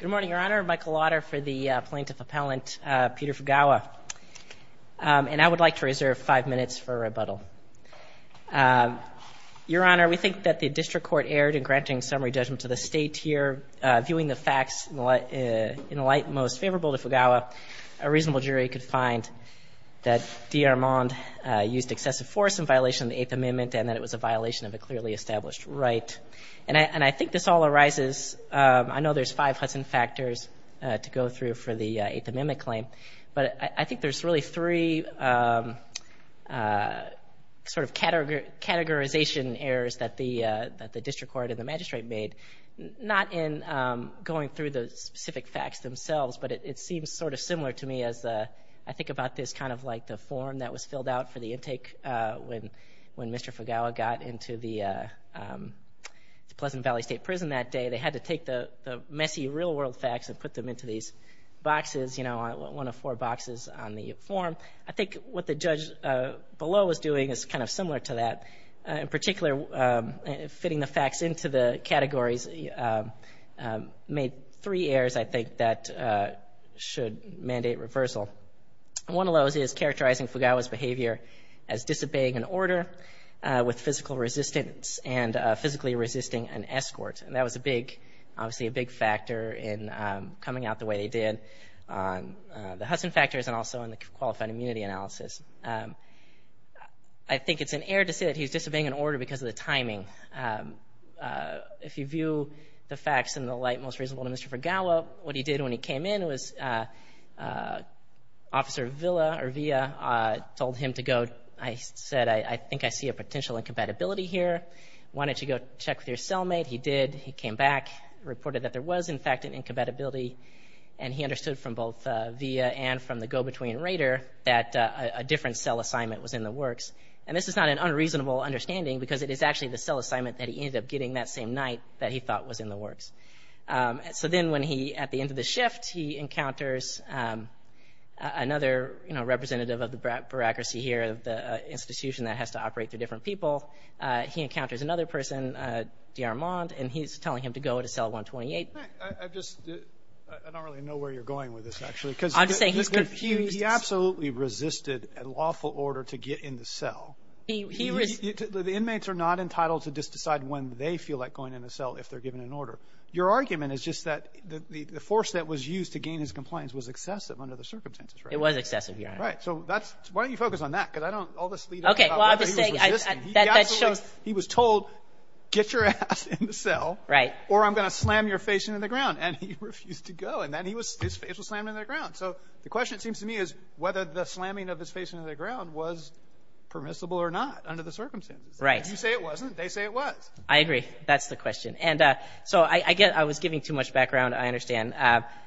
Good morning, Your Honor. Michael Lauder for the plaintiff appellant, Peter Fugawa. And I would like to reserve five minutes for rebuttal. Your Honor, we think that the district court aired in granting summary judgment to the state here. Viewing the facts in light most favorable to Fugawa, a reasonable jury could find that Dearmond used excessive force in violation of the Eighth Amendment, and that it was a violation of a clearly established right. And I think this all arises, I know there's five Hudson factors to go through for the Eighth Amendment claim, but I think there's really three sort of categorization errors that the district court and the magistrate made. Not in going through the specific facts themselves, but it seems sort of similar to me as I think about this kind of like the form that was filled out for the intake when Mr. Fugawa got into the Pleasant Valley State Prison that day. They had to take the messy real world facts and put them into these boxes, one of four boxes on the form. I think what the judge below is doing is kind of similar to that. In particular, fitting the facts into the categories made three errors I think that should mandate reversal. One of those is characterizing Fugawa's behavior as disobeying an order with physical resistance and physically resisting an escort. And that was a big, obviously a big factor in coming out the way they did on the Hudson factors and also in the qualified immunity analysis. I think it's an error to say that he's disobeying an order because of the timing. If you view the facts in the light most reasonable to Mr. Fugawa, what he did when he came in was Officer Villa or Villa told him to go. I said, I think I see a potential incompatibility here. Why don't you go check with your cellmate? He did, he came back, reported that there was in fact an incompatibility and he understood from both Villa and from the go-between rater that a different cell assignment was in the works. And this is not an unreasonable understanding because it is actually the cell assignment that he ended up getting that same night that he thought was in the works. So then when he, at the end of the shift, he encounters another representative of the bureaucracy here of the institution that has to operate through different people. He encounters another person, D.R. Mond, and he's telling him to go to cell 128. I just, I don't really know where you're going with this actually. I'm just saying he's confused. He absolutely resisted a lawful order to get in the cell. The inmates are not entitled to just decide when they feel like going in a cell if they're given an order. Your argument is just that the force that was used to gain his compliance was excessive under the circumstances, right? It was excessive, Your Honor. Right. So that's, why don't you focus on that? Because I don't, all this lead up about whether he was resisting. Okay, well, I'm just saying that that shows. He was told, get your ass in the cell or I'm going to slam your face into the ground. And he refused to go. And then his face was slammed into the ground. So the question, it seems to me, is whether the slamming of his face into the ground was permissible or not under the circumstances. Right. If you say it wasn't, they say it was. I agree. That's the question. So I was giving too much background, I understand.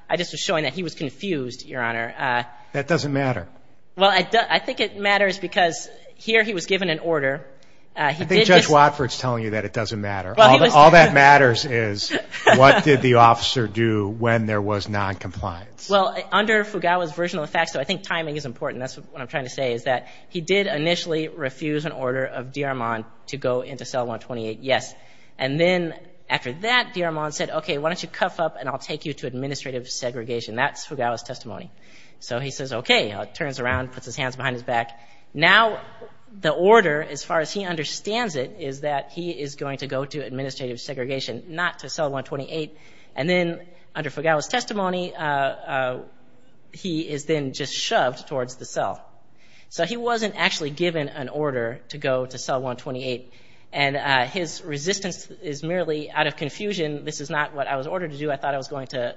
I just was showing that he was confused, Your Honor. That doesn't matter. Well, I think it matters because here he was given an order. I think Judge Watford's telling you that it doesn't matter. All that matters is what did the officer do when there was noncompliance? Well, under Fugawa's version of the facts, so I think timing is important. That's what I'm trying to say, is that he did initially refuse an order of D-Armand to go into cell 128, yes. And then after that, D-Armand said, okay, why don't you cuff up and I'll take you to administrative segregation. That's Fugawa's testimony. So he says, okay, turns around, puts his hands behind his back. Now the order, as far as he understands it, is that he is going to go to administrative segregation, not to cell 128. And then under Fugawa's testimony, he is then just shoved towards the cell. So he wasn't actually given an order to go to cell 128. And his resistance is merely out of confusion. This is not what I was ordered to do. I thought I was going to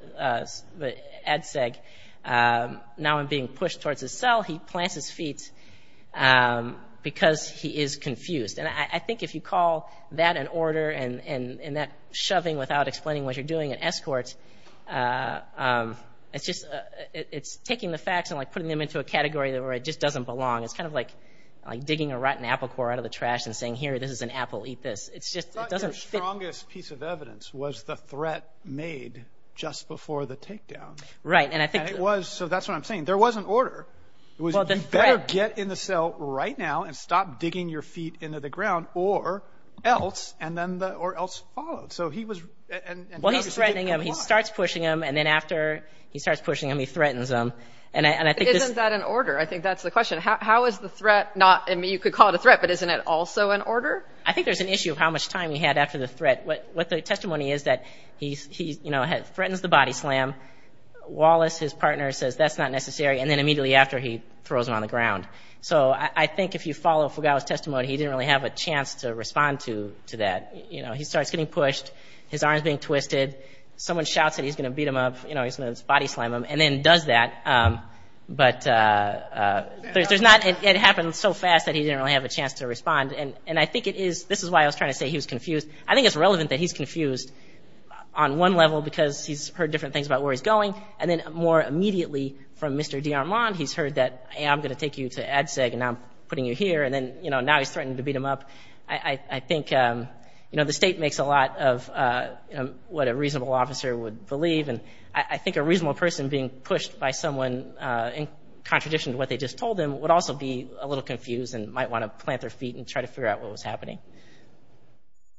ADSEG. Now I'm being pushed towards his cell. He plants his feet because he is confused. And I think if you call that an order and that shoving without explaining what you're doing an escort, it's just, it's taking the facts and like putting them into a category where it just doesn't belong. It's kind of like digging a rotten apple core out of the trash and saying, here, this is an apple, eat this. It's just, it doesn't fit. I thought your strongest piece of evidence was the threat made just before the takedown. Right, and I think- And it was, so that's what I'm saying. There was an order. It was, you better get in the cell right now and stop digging your feet into the ground or else, and then the, or else followed. So he was, and- Well, he's threatening him. He starts pushing him. And then after he starts pushing him, he threatens him. And I think this- Isn't that an order? I think that's the question. How is the threat not, I mean, you could call it a threat, but isn't it also an order? I think there's an issue of how much time he had after the threat. What the testimony is that he, you know, threatens the body slam. Wallace, his partner, says that's not necessary. And then immediately after, he throws him on the ground. So I think if you follow Fugawa's testimony, he didn't really have a chance to respond to that. You know, he starts getting pushed, his arm's being twisted. Someone shouts that he's gonna beat him up. You know, he's gonna body slam him and then does that. But there's not, it happened so fast that he didn't really have a chance to respond. And I think it is, this is why I was trying to say he was confused. I think it's relevant that he's confused on one level because he's heard different things about where he's going. And then more immediately from Mr. D. Armand, he's heard that, hey, I'm gonna take you to ADSEG and I'm putting you here. And then, you know, now he's threatening to beat him up. I think, you know, the state makes a lot of what a reasonable officer would believe. And I think a reasonable person being pushed by someone in contradiction to what they just told him would also be a little confused. And might want to plant their feet and try to figure out what was happening.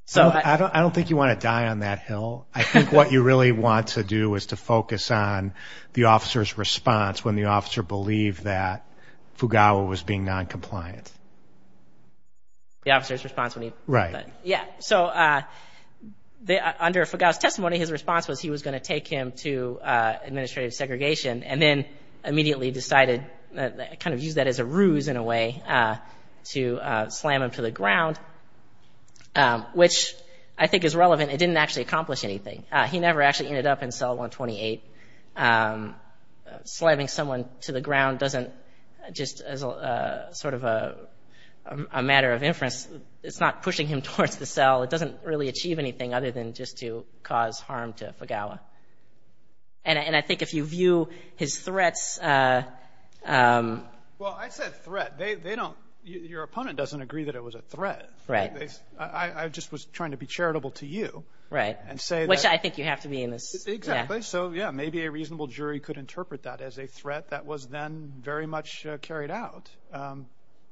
So I don't, I don't think you want to die on that hill. I think what you really want to do is to focus on the officer's response when the officer believed that Fugawa was being non-compliant. The officer's response when he, right. Yeah. So under Fugawa's testimony, his response was he was going to take him to administrative segregation and then immediately decided to kind of use that as a ruse in a way to slam him to the ground, which I think is relevant. It didn't actually accomplish anything. He never actually ended up in cell 128. Slamming someone to the ground doesn't, just as a sort of a matter of inference, it's not pushing him towards the cell. It doesn't really achieve anything other than just to cause harm to Fugawa. And I think if you view his threats. Well, I said threat, they don't, your opponent doesn't agree that it was a threat. Right. I just was trying to be charitable to you. Right. And say that. Which I think you have to be in this. Exactly, so yeah, maybe a reasonable jury could interpret that as a threat that was then very much carried out,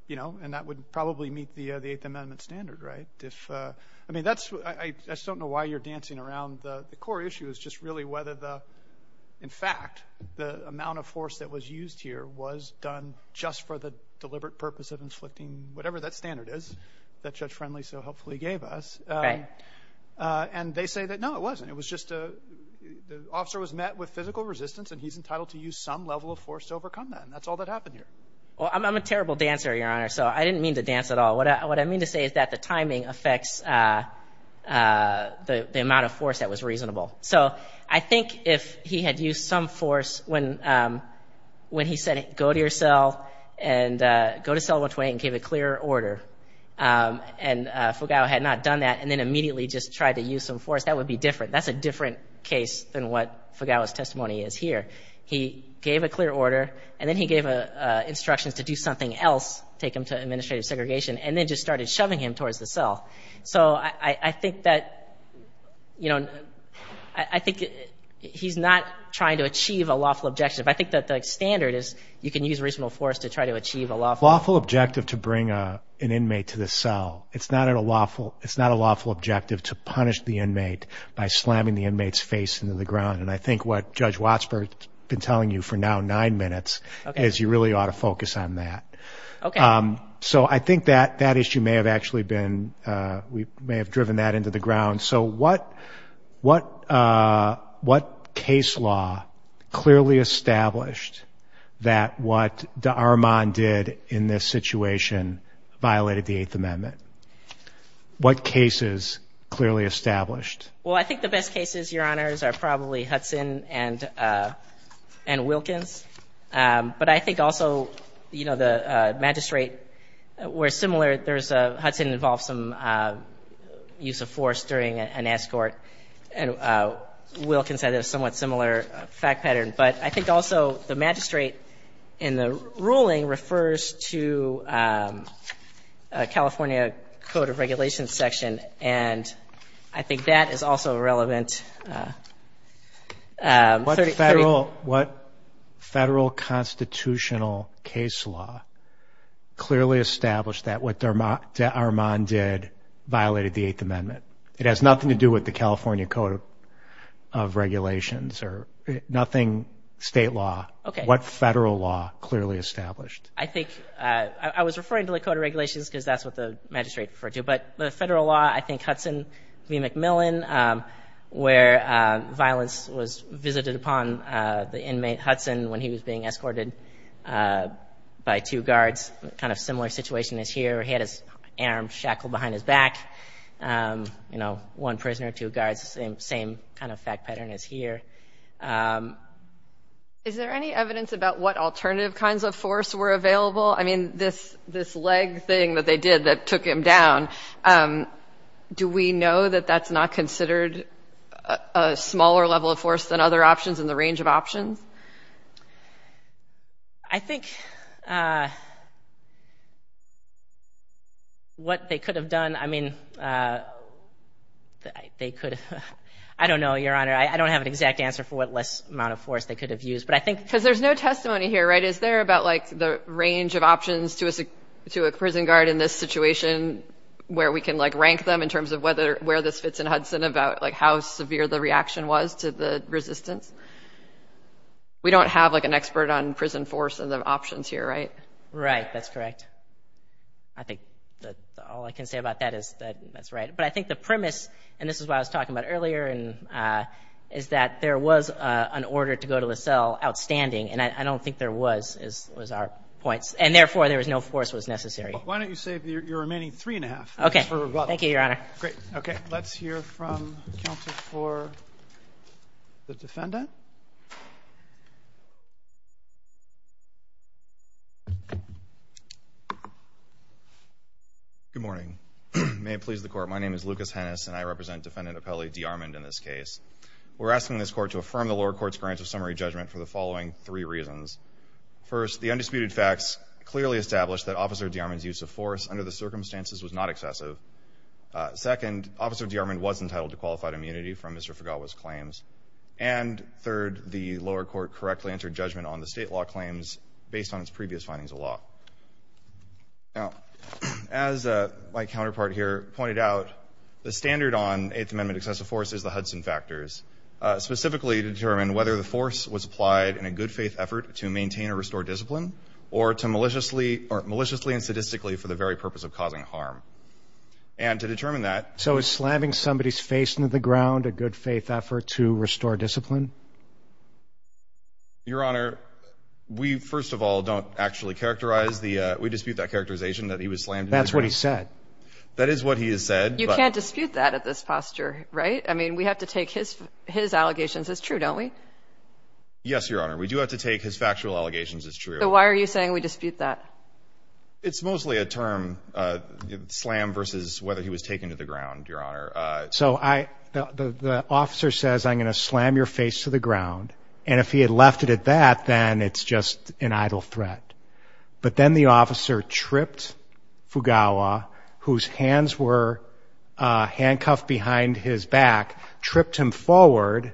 you know, and that would probably meet the eighth amendment standard, right? If, I mean, that's, I just don't know why you're dancing around the core issue is just really whether the, in fact, the amount of force that was used here was done just for the deliberate purpose of inflicting whatever that standard is that Judge Friendly so helpfully gave us. Right. And they say that, no, it wasn't. It was just a, the officer was met with physical resistance and he's entitled to use some level of force to overcome that. And that's all that happened here. Well, I'm a terrible dancer, your honor. So I didn't mean to dance at all. What I mean to say is that the timing affects the amount of force that was reasonable. So I think if he had used some force when he said, go to your cell and go to cell 128 and gave a clear order and Fugao had not done that and then immediately just tried to use some force, that would be different. That's a different case than what Fugao's testimony is here. He gave a clear order and then he gave instructions to do something else, take him to administrative segregation, and then just started shoving him towards the cell. So I think that, you know, I think he's not trying to achieve a lawful objection. But I think that the standard is you can use reasonable force to try to achieve a lawful- Lawful objective to bring an inmate to the cell. It's not a lawful objective to punish the inmate by slamming the inmate's face into the ground. And I think what Judge Wattsberg's been telling you for now nine minutes is you really ought to focus on that. Okay. So I think that issue may have actually been, we may have driven that into the ground. So what case law clearly established that what D'Armand did in this situation violated the Eighth Amendment? What cases clearly established? Well, I think the best cases, Your Honors, are probably Hudson and Wilkins. But I think also, you know, the magistrate were similar. There's a, Hudson involved some use of force during an escort. And Wilkins had a somewhat similar fact pattern. But I think also the magistrate in the ruling refers to California Code of Regulations section. And I think that is also relevant. And- What federal constitutional case law clearly established that what D'Armand did violated the Eighth Amendment? It has nothing to do with the California Code of Regulations or nothing state law. What federal law clearly established? I think, I was referring to the Code of Regulations because that's what the magistrate referred to. But the federal law, I think Hudson v. McMillan where violence was visited upon the inmate Hudson when he was being escorted by two guards. Kind of similar situation is here. He had his arm shackled behind his back. You know, one prisoner, two guards, same kind of fact pattern is here. Is there any evidence about what alternative kinds of force were available? I mean, this leg thing that they did that took him down. Do we know that that's not considered a smaller level of force than other options in the range of options? I think what they could have done, I mean, they could have, I don't know, Your Honor. I don't have an exact answer for what less amount of force they could have used, but I think- Because there's no testimony here, right? Is there about like the range of options to a prison guard in this situation where we can like rank them in terms of where this fits in Hudson about like how severe the reaction was to the resistance? We don't have like an expert on prison force and the options here, right? Right, that's correct. I think that all I can say about that is that that's right. But I think the premise, and this is what I was talking about earlier, is that there was an order to go to the cell outstanding. And I don't think there was, is our points. And therefore, there was no force was necessary. Why don't you save your remaining three and a half? Okay, thank you, Your Honor. Great, okay, let's hear from counsel for the defendant. Good morning, may it please the court. My name is Lucas Hennis and I represent Defendant Apelli D'Armond in this case. We're asking this court to affirm the lower court's grant of summary judgment for the following three reasons. First, the undisputed facts clearly establish that Officer D'Armond's use of force under the circumstances was not excessive. Second, Officer D'Armond was entitled to qualified immunity from Mr. Fugawa's claims. And third, the lower court correctly entered judgment on the state law claims based on its previous findings of law. Now, as my counterpart here pointed out, the standard on Eighth Amendment excessive force is the Hudson factors, specifically to determine whether the force was applied in a good faith effort to maintain or restore discipline, or to maliciously and sadistically for the very purpose of causing harm. And to determine that. So is slamming somebody's face into the ground a good faith effort to restore discipline? Your Honor, we first of all don't actually characterize the, we dispute that characterization that he was slammed. That's what he said. That is what he has said. You can't dispute that at this posture, right? I mean, we have to take his allegations as true, don't we? Yes, Your Honor. We do have to take his factual allegations as true. So why are you saying we dispute that? It's mostly a term, slam versus whether he was taken to the ground, Your Honor. So I, the officer says, I'm gonna slam your face to the ground. And if he had left it at that, then it's just an idle threat. But then the officer tripped Fugawa, whose hands were handcuffed behind his back, tripped him forward.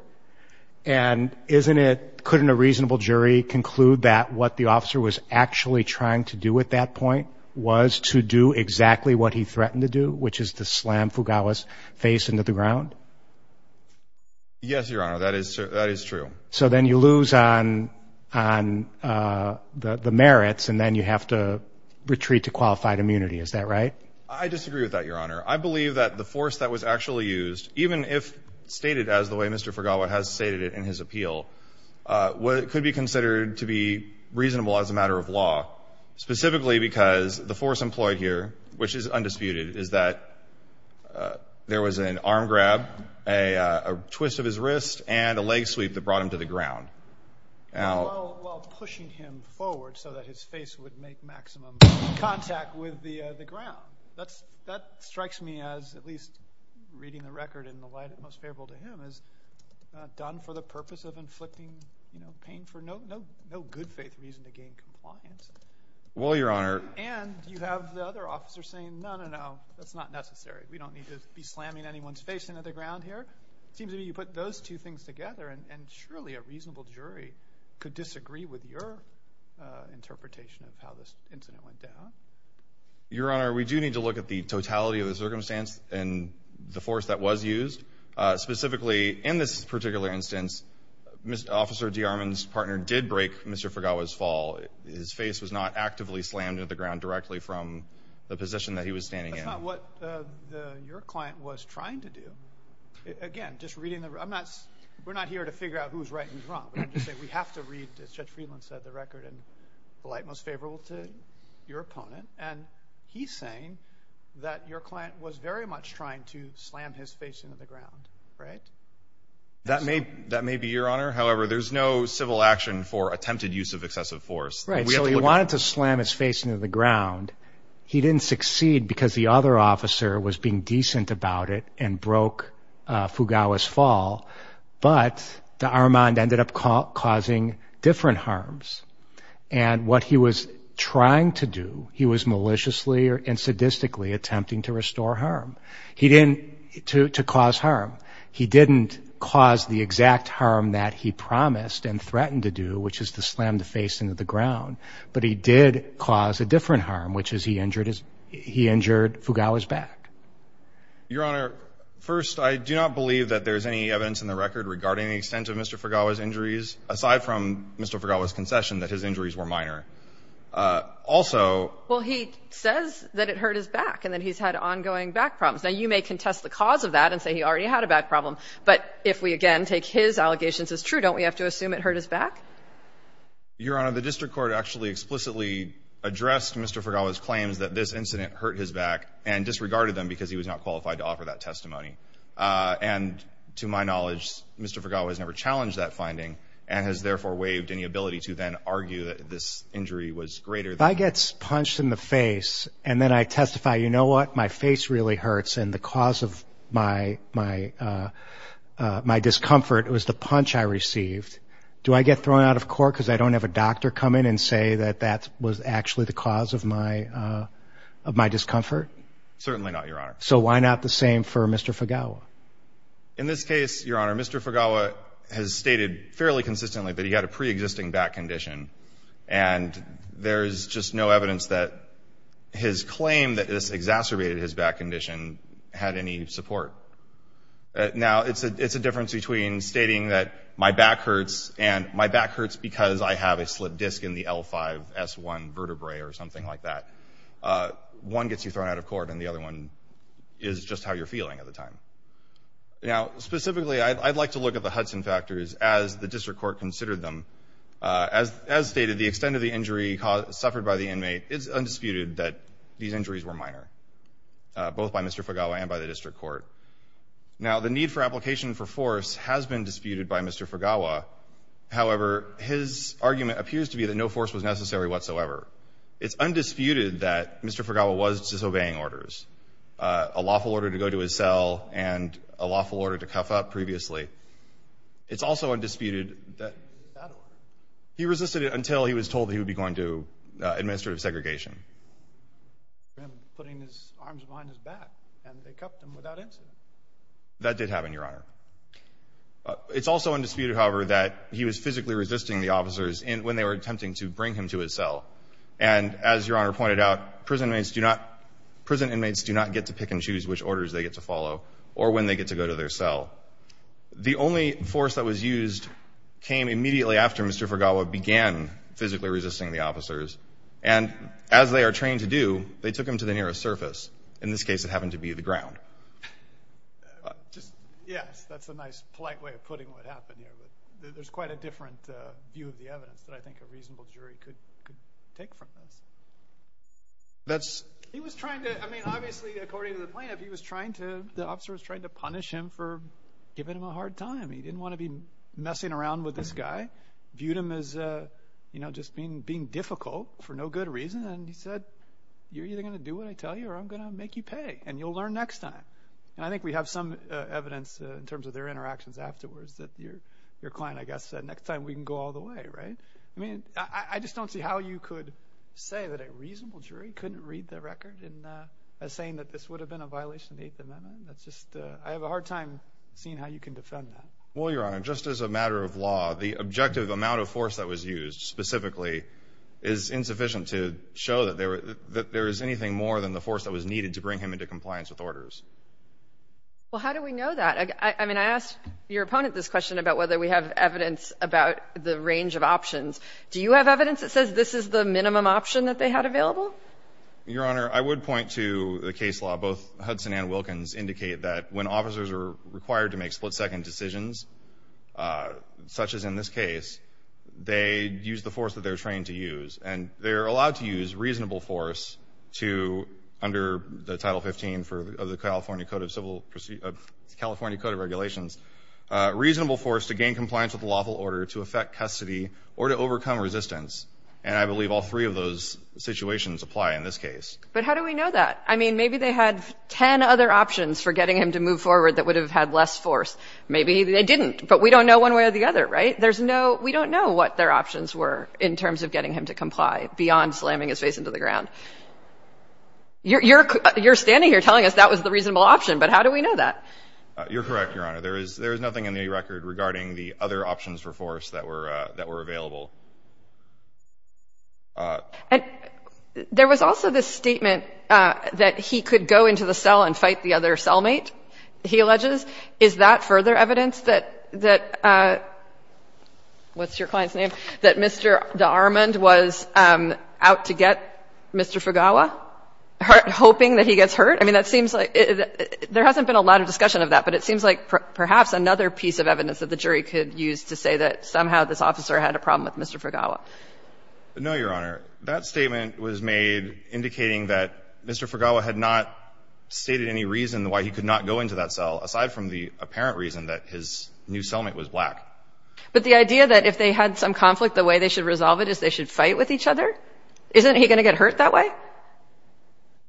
And isn't it, couldn't a reasonable jury conclude that what the officer was actually trying to do at that point was to do exactly what he threatened to do, which is to slam Fugawa's face into the ground? Yes, Your Honor, that is true. So then you lose on the merits and then you have to retreat to qualified immunity. Is that right? I disagree with that, Your Honor. I believe that the force that was actually used, even if stated as the way Mr. Fugawa has stated it in his appeal, what could be considered to be reasonable as a matter of law, specifically because the force employed here, which is undisputed, is that there was an arm grab, a twist of his wrist, and a leg sweep that brought him to the ground. Now- While pushing him forward so that his face would make maximum contact with the ground. That strikes me as, at least reading the record in the light that most favorable to him, as done for the purpose of inflicting pain for no good faith reason to gain compliance. Well, Your Honor- And you have the other officer saying, no, no, no, that's not necessary. We don't need to be slamming anyone's face into the ground here. Seems to me you put those two things together and surely a reasonable jury could disagree with your interpretation of how this incident went down. Your Honor, we do need to look at the totality of the circumstance and the force that was used. Specifically, in this particular instance, Officer DeArmond's partner did break Mr. Fugawa's fall. His face was not actively slammed into the ground directly from the position that he was standing in. That's not what your client was trying to do. Again, just reading the, I'm not, we're not here to figure out who's right and who's wrong, but I'm just saying we have to read, as Judge Friedland said, the record in the light most favorable to your opponent. And he's saying that your client was very much trying to slam his face into the ground, right? That may be, Your Honor. However, there's no civil action for attempted use of excessive force. Right, so he wanted to slam his face into the ground. He didn't succeed because the other officer was being decent about it and broke Fugawa's fall, but DeArmond ended up causing different harms. And what he was trying to do, he was maliciously and sadistically attempting to restore harm. He didn't, to cause harm. He didn't cause the exact harm that he promised and threatened to do, which is to slam the face into the ground, but he did cause a different harm, which is he injured Fugawa's back. Your Honor, first, I do not believe that there's any evidence in the record regarding the extent of Mr. Fugawa's injuries, aside from Mr. Fugawa's concession that his injuries were minor. Also- Well, he says that it hurt his back and that he's had ongoing back problems. Now, you may contest the cause of that and say he already had a back problem, but if we, again, take his allegations as true, don't we have to assume it hurt his back? Your Honor, the district court actually explicitly addressed Mr. Fugawa's claims that this incident hurt his back and disregarded them because he was not qualified to offer that testimony. And to my knowledge, Mr. Fugawa has never challenged that finding and has therefore waived any ability to then argue that this injury was greater than- If I get punched in the face and then I testify, you know what? My face really hurts and the cause of my discomfort was the punch I received, do I get thrown out of court because I don't have a doctor come in and say that that was actually the cause of my discomfort? Certainly not, Your Honor. So why not the same for Mr. Fugawa? In this case, Your Honor, Mr. Fugawa has stated fairly consistently that he had a preexisting back condition and there's just no evidence that his claim that this exacerbated his back condition had any support. Now, it's a difference between stating that my back hurts and my back hurts because I have a slipped disc in the L5-S1 vertebrae or something like that. One gets you thrown out of court and the other one is just how you're feeling at the time. Now, specifically, I'd like to look at the Hudson factors as the district court considered them. As stated, the extent of the injury suffered by the inmate is undisputed that these injuries were minor, both by Mr. Fugawa and by the district court. Now, the need for application for force has been disputed by Mr. Fugawa. However, his argument appears to be that no force was necessary whatsoever. It's undisputed that Mr. Fugawa was disobeying orders, a lawful order to go to his cell and a lawful order to cuff up previously. It's also undisputed that he resisted it until he was told that he would be going to administrative segregation. And putting his arms behind his back and they cuffed him without incident. That did happen, Your Honor. It's also undisputed, however, that he was physically resisting the officers when they were attempting to bring him to his cell. And as Your Honor pointed out, prison inmates do not get to pick and choose which orders they get to follow or when they get to go to their cell. The only force that was used came immediately after Mr. Fugawa began physically resisting the officers. And as they are trained to do, they took him to the nearest surface. In this case, it happened to be the ground. Yes, that's a nice, polite way of putting what happened here. There's quite a different view of the evidence that I think a reasonable jury could take from this. He was trying to, I mean, obviously, according to the plaintiff, he was trying to, the officer was trying to punish him for giving him a hard time. He didn't want to be messing around with this guy. Viewed him as just being difficult for no good reason. And he said, you're either gonna do what I tell you or I'm gonna make you pay and you'll learn next time. And I think we have some evidence in terms of their interactions afterwards that your client, I guess, said, next time we can go all the way, right? I mean, I just don't see how you could say that a reasonable jury couldn't read the record in saying that this would have been a violation of the Eighth Amendment. That's just, I have a hard time seeing how you can defend that. Well, Your Honor, just as a matter of law, the objective amount of force that was used specifically is insufficient to show that there is anything more than the force that was needed to bring him into compliance with orders. Well, how do we know that? I mean, I asked your opponent this question about whether we have evidence about the range of options. Do you have evidence that says this is the minimum option that they had available? Your Honor, I would point to the case law. Both Hudson and Wilkins indicate that when officers are required to make split-second decisions, such as in this case, they use the force that they're trained to use. And they're allowed to use reasonable force to, under the Title 15 of the California Code of Civil, California Code of Regulations, reasonable force to gain compliance with the lawful order to affect custody or to overcome resistance. And I believe all three of those situations apply in this case. But how do we know that? I mean, maybe they had 10 other options for getting him to move forward that would have had less force. Maybe they didn't, but we don't know one way or the other, right? There's no, we don't know what their options were in terms of getting him to comply beyond slamming his face into the ground. You're standing here telling us that was the reasonable option, but how do we know that? You're correct, Your Honor. There is nothing in the record regarding the other options for force that were available. And there was also this statement that he could go into the cell and fight the other cellmate, he alleges. Is that further evidence that, what's your client's name, that Mr. Daharmand was out to get Mr. Fugawa, hoping that he gets hurt? I mean, that seems like, there hasn't been a lot of discussion of that, but it seems like perhaps another piece of evidence that the jury could use to say that somehow this officer had a problem with Mr. Fugawa. No, Your Honor. That statement was made indicating that Mr. Fugawa had not stated any reason why he could not go into that cell, aside from the apparent reason that his new cellmate was black. But the idea that if they had some conflict, the way they should resolve it is they should fight with each other? Isn't he going to get hurt that way?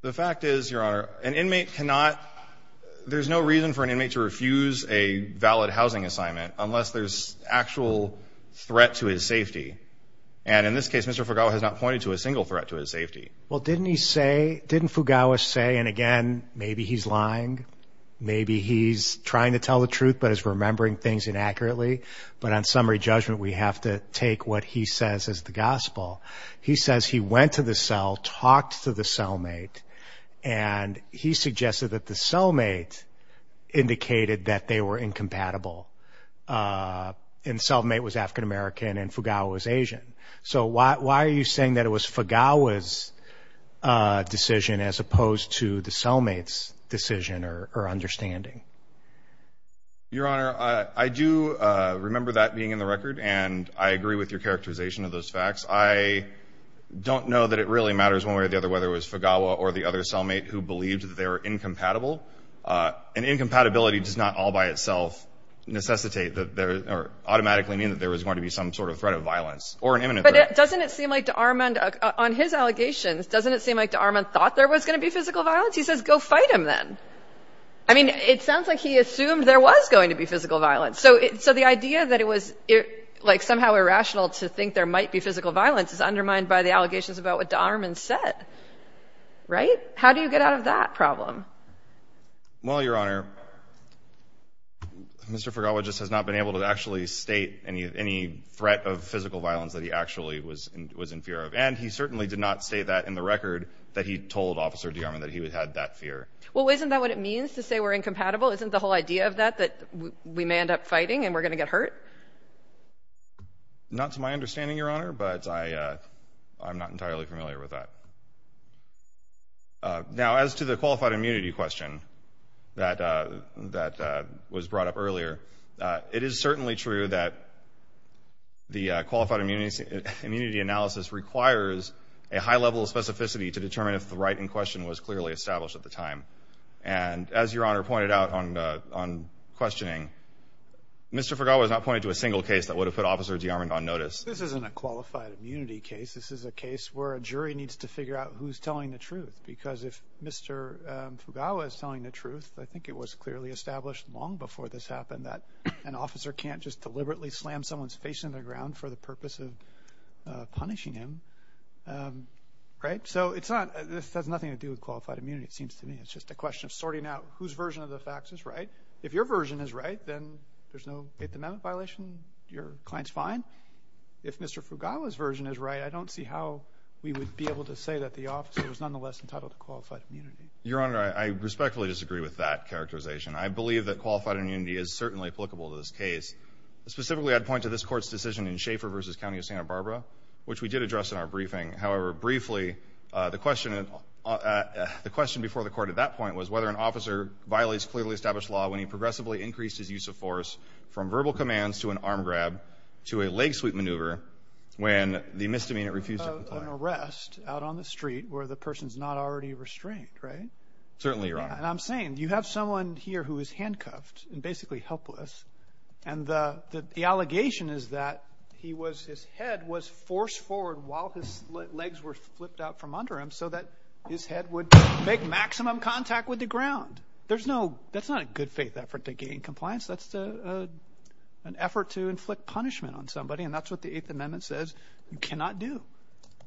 The fact is, Your Honor, an inmate cannot, there's no reason for an inmate to refuse a valid housing assignment, unless there's actual threat to his safety. And in this case, Mr. Fugawa has not pointed to a single threat to his safety. Well, didn't he say, didn't Fugawa say, and again, maybe he's lying. Maybe he's trying to tell the truth, but is remembering things inaccurately. But on summary judgment, we have to take what he says is the gospel. He says he went to the cell, talked to the cellmate, and he suggested that the cellmate indicated that they were incompatible. And cellmate was African-American and Fugawa was Asian. So why are you saying that it was Fugawa's decision as opposed to the cellmate's decision or understanding? Your Honor, I do remember that being in the record, and I agree with your characterization of those facts. I don't know that it really matters one way or the other, whether it was Fugawa or the other cellmate who believed that they were incompatible. And incompatibility does not all by itself necessitate or automatically mean that there was going to be some sort of threat of violence or an imminent threat. But doesn't it seem like de Armand, on his allegations, doesn't it seem like de Armand thought there was going to be physical violence? He says, go fight him then. I mean, it sounds like he assumed there was going to be physical violence. So the idea that it was somehow irrational to think there might be physical violence is undermined by the allegations about what de Armand said, right? How do you get out of that problem? Well, your Honor, Mr. Fugawa just has not been able to actually state any threat of physical violence that he actually was in fear of. And he certainly did not say that in the record that he told Officer de Armand that he had that fear. Well, isn't that what it means to say we're incompatible? Isn't the whole idea of that that we may end up fighting and we're going to get hurt? Not to my understanding, your Honor, but I'm not entirely familiar with that. Now, as to the qualified immunity question that was brought up earlier, it is certainly true that the qualified immunity analysis requires a high level of specificity to determine if the right in question was clearly established at the time. And as your Honor pointed out on questioning, Mr. Fugawa has not pointed to a single case that would have put Officer de Armand on notice. This isn't a qualified immunity case. This is a case where a jury needs to figure out who's telling the truth. Because if Mr. Fugawa is telling the truth, I think it was clearly established long before this happened that an officer can't just deliberately slam someone's face in the ground for the purpose of punishing him, right? So it's not, this has nothing to do with qualified immunity, it seems to me. It's just a question of sorting out whose version of the facts is right. If your version is right, then there's no Eighth Amendment violation. Your client's fine. If Mr. Fugawa's version is right, I don't see how we would be able to say that the officer was nonetheless entitled to qualified immunity. Your Honor, I respectfully disagree with that characterization. I believe that qualified immunity is certainly applicable to this case. Specifically, I'd point to this court's decision in Schaefer versus County of Santa Barbara, which we did address in our briefing. However, briefly, the question before the court at that point was whether an officer violates clearly established law when he progressively increased his use of force from verbal commands to an arm grab to a leg sweep maneuver when the misdemeanor refused to comply. An arrest out on the street where the person's not already restrained, right? Certainly, Your Honor. And I'm saying, you have someone here who is handcuffed and basically helpless, and the allegation is that he was, his head was forced forward while his legs were flipped out from under him so that his head would make maximum contact with the ground. There's no, that's not a good faith effort to gain compliance. That's an effort to inflict punishment on somebody, and that's what the Eighth Amendment says you cannot do.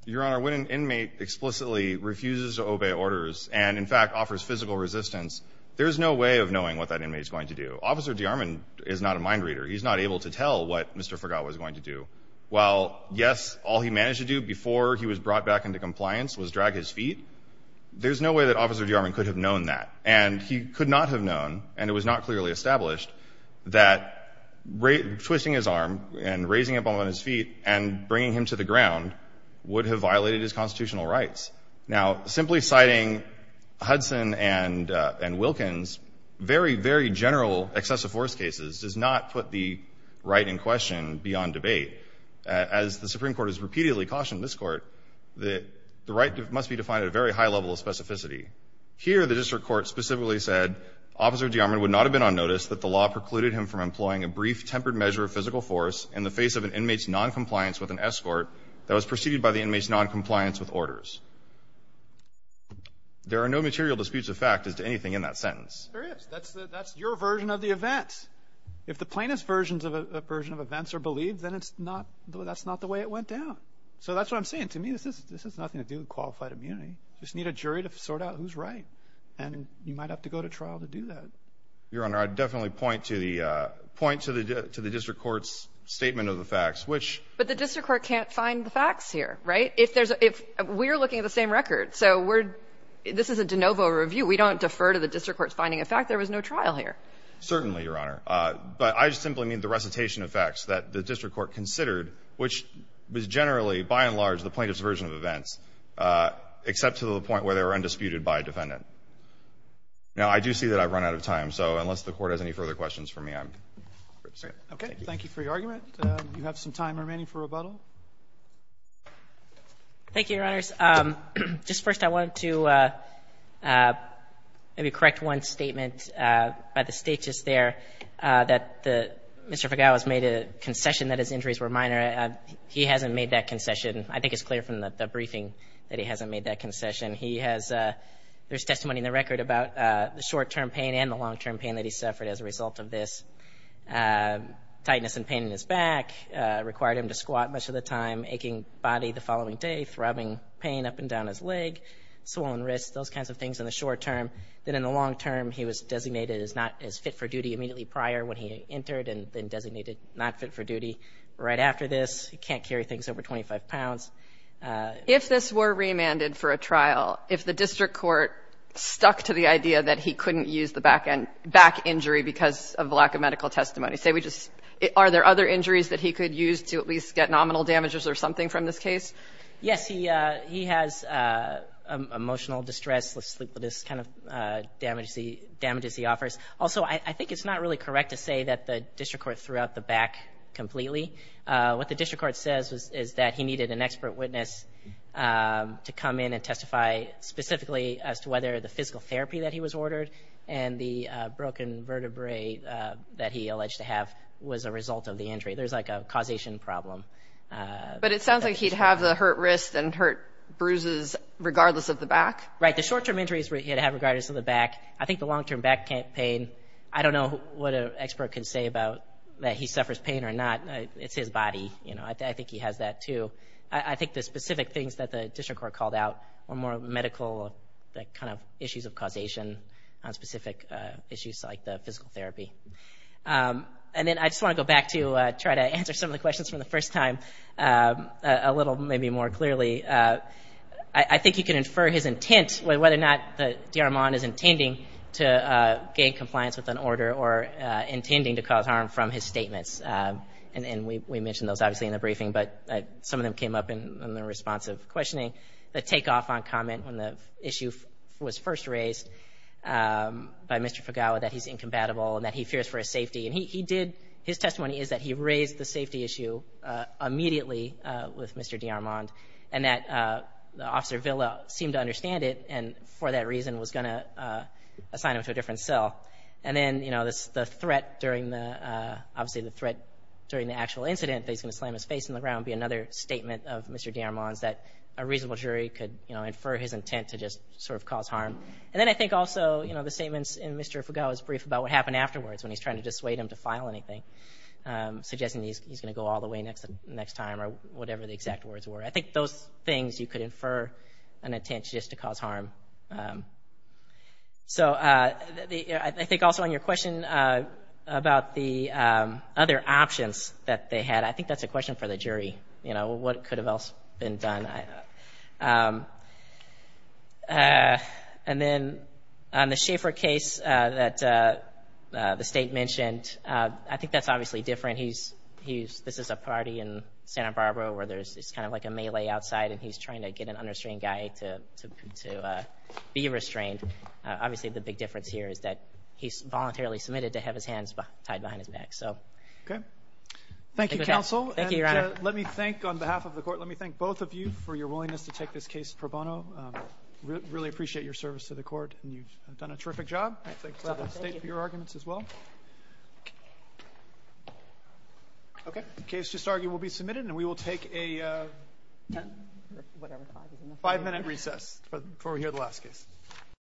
Your Honor, when an inmate explicitly refuses to obey orders and, in fact, offers physical resistance, there's no way of knowing what that inmate's going to do. Officer DeArmond is not a mind reader. He's not able to tell what Mr. Forgot was going to do. While, yes, all he managed to do before he was brought back into compliance was drag his feet, there's no way that Officer DeArmond could have known that. And he could not have known, and it was not clearly established, that twisting his arm and raising up on his feet and bringing him to the ground would have violated his constitutional rights. Now, simply citing Hudson and Wilkins, very, very general excessive force cases does not put the right in question beyond debate. As the Supreme Court has repeatedly cautioned this Court, that the right must be defined at a very high level of specificity. Here, the district court specifically said, Officer DeArmond would not have been on notice that the law precluded him from employing a brief tempered measure of physical force in the face of an inmate's noncompliance with an escort that was preceded by the inmate's noncompliance with orders. There are no material disputes of fact as to anything in that sentence. There is. That's your version of the event. If the plaintiff's version of events are believed, then that's not the way it went down. So that's what I'm saying. To me, this has nothing to do with qualified immunity. Just need a jury to sort out who's right. And you might have to go to trial to do that. Your Honor, I'd definitely point to the, point to the district court's statement of the facts, which. But the district court can't find the facts here, right? If there's, if we're looking at the same record, so we're, this is a de novo review. We don't defer to the district court's finding a fact. There was no trial here. Certainly, Your Honor. But I just simply mean the recitation of facts that the district court considered, which was generally, by and large, the plaintiff's version of events, except to the point where they were undisputed by a defendant. Now, I do see that I've run out of time. So unless the court has any further questions for me, I'm. Okay. Thank you for your argument. You have some time remaining for rebuttal. Thank you, Your Honors. Just first, I wanted to maybe correct one statement by the state just there, that Mr. Fagawa's made a concession that his injuries were minor. He hasn't made that concession. I think it's clear from the briefing that he hasn't made that concession. He has, there's testimony in the record about the short-term pain and the long-term pain that he suffered as a result of this. Tightness and pain in his back required him to squat much of the time, aching body the following day, throbbing pain up and down his leg, swollen wrists, those kinds of things in the short term. Then in the long term, he was designated as not as fit for duty immediately prior when he entered, and then designated not fit for duty right after this. He can't carry things over 25 pounds. If this were remanded for a trial, if the district court stuck to the idea that he couldn't use the back injury because of lack of medical testimony, say we just, are there other injuries that he could use to at least get nominal damages or something from this case? Yes, he has emotional distress, let's sleep with this kind of damages he offers. Also, I think it's not really correct to say that the district court threw out the back completely. What the district court says is that he needed an expert witness to come in and testify specifically as to whether the physical therapy that he was ordered and the broken vertebrae that he alleged to have was a result of the injury. There's like a causation problem. But it sounds like he'd have the hurt wrist and hurt bruises regardless of the back. Right, the short term injuries he'd have regardless of the back. I think the long term back pain, I don't know what an expert can say about that he suffers pain or not. It's his body, you know, I think he has that too. I think the specific things that the district court called out were more medical, the kind of issues of causation on specific issues like the physical therapy. And then I just want to go back to try to answer some of the questions from the first time a little maybe more clearly. I think you can infer his intent whether or not the D.R. Mahon is intending to gain compliance with an order or intending to cause harm from his statements. And we mentioned those obviously in the briefing, but some of them came up in the response of questioning. The takeoff on comment when the issue was first raised by Mr. Fugawa that he's incompatible and that he fears for his safety. And he did, his testimony is that he raised the safety issue immediately with Mr. D.R. Mahon and that Officer Villa seemed to understand it and for that reason was gonna assign him to a different cell. And then the threat during the, obviously the threat during the actual incident that he's gonna slam his face in the ground would be another statement of Mr. D.R. Mahon's that a reasonable jury could infer his intent to just sort of cause harm. And then I think also the statements in Mr. Fugawa's brief about what happened afterwards when he's trying to dissuade him to file anything, suggesting he's gonna go all the way next time or whatever the exact words were. I think those things you could infer an intent just to cause harm. So I think also on your question about the other options that they had, I think that's a question for the jury. You know, what could have else been done? And then on the Schaefer case that the state mentioned, I think that's obviously different. He's, this is a party in Santa Barbara where there's this kind of like a melee outside and he's trying to get an understating guy to be restrained. Obviously the big difference here is that he's voluntarily submitted to have his hands tied behind his back, so. Okay. Thank you, counsel. Thank you, your honor. And let me thank, on behalf of the court, let me thank both of you for your willingness to take this case pro bono. Really appreciate your service to the court. You've done a terrific job. I thank the state for your arguments as well. Okay. The case just argued will be submitted and we will take a 10, whatever, five minutes. Recess, before we hear the last case.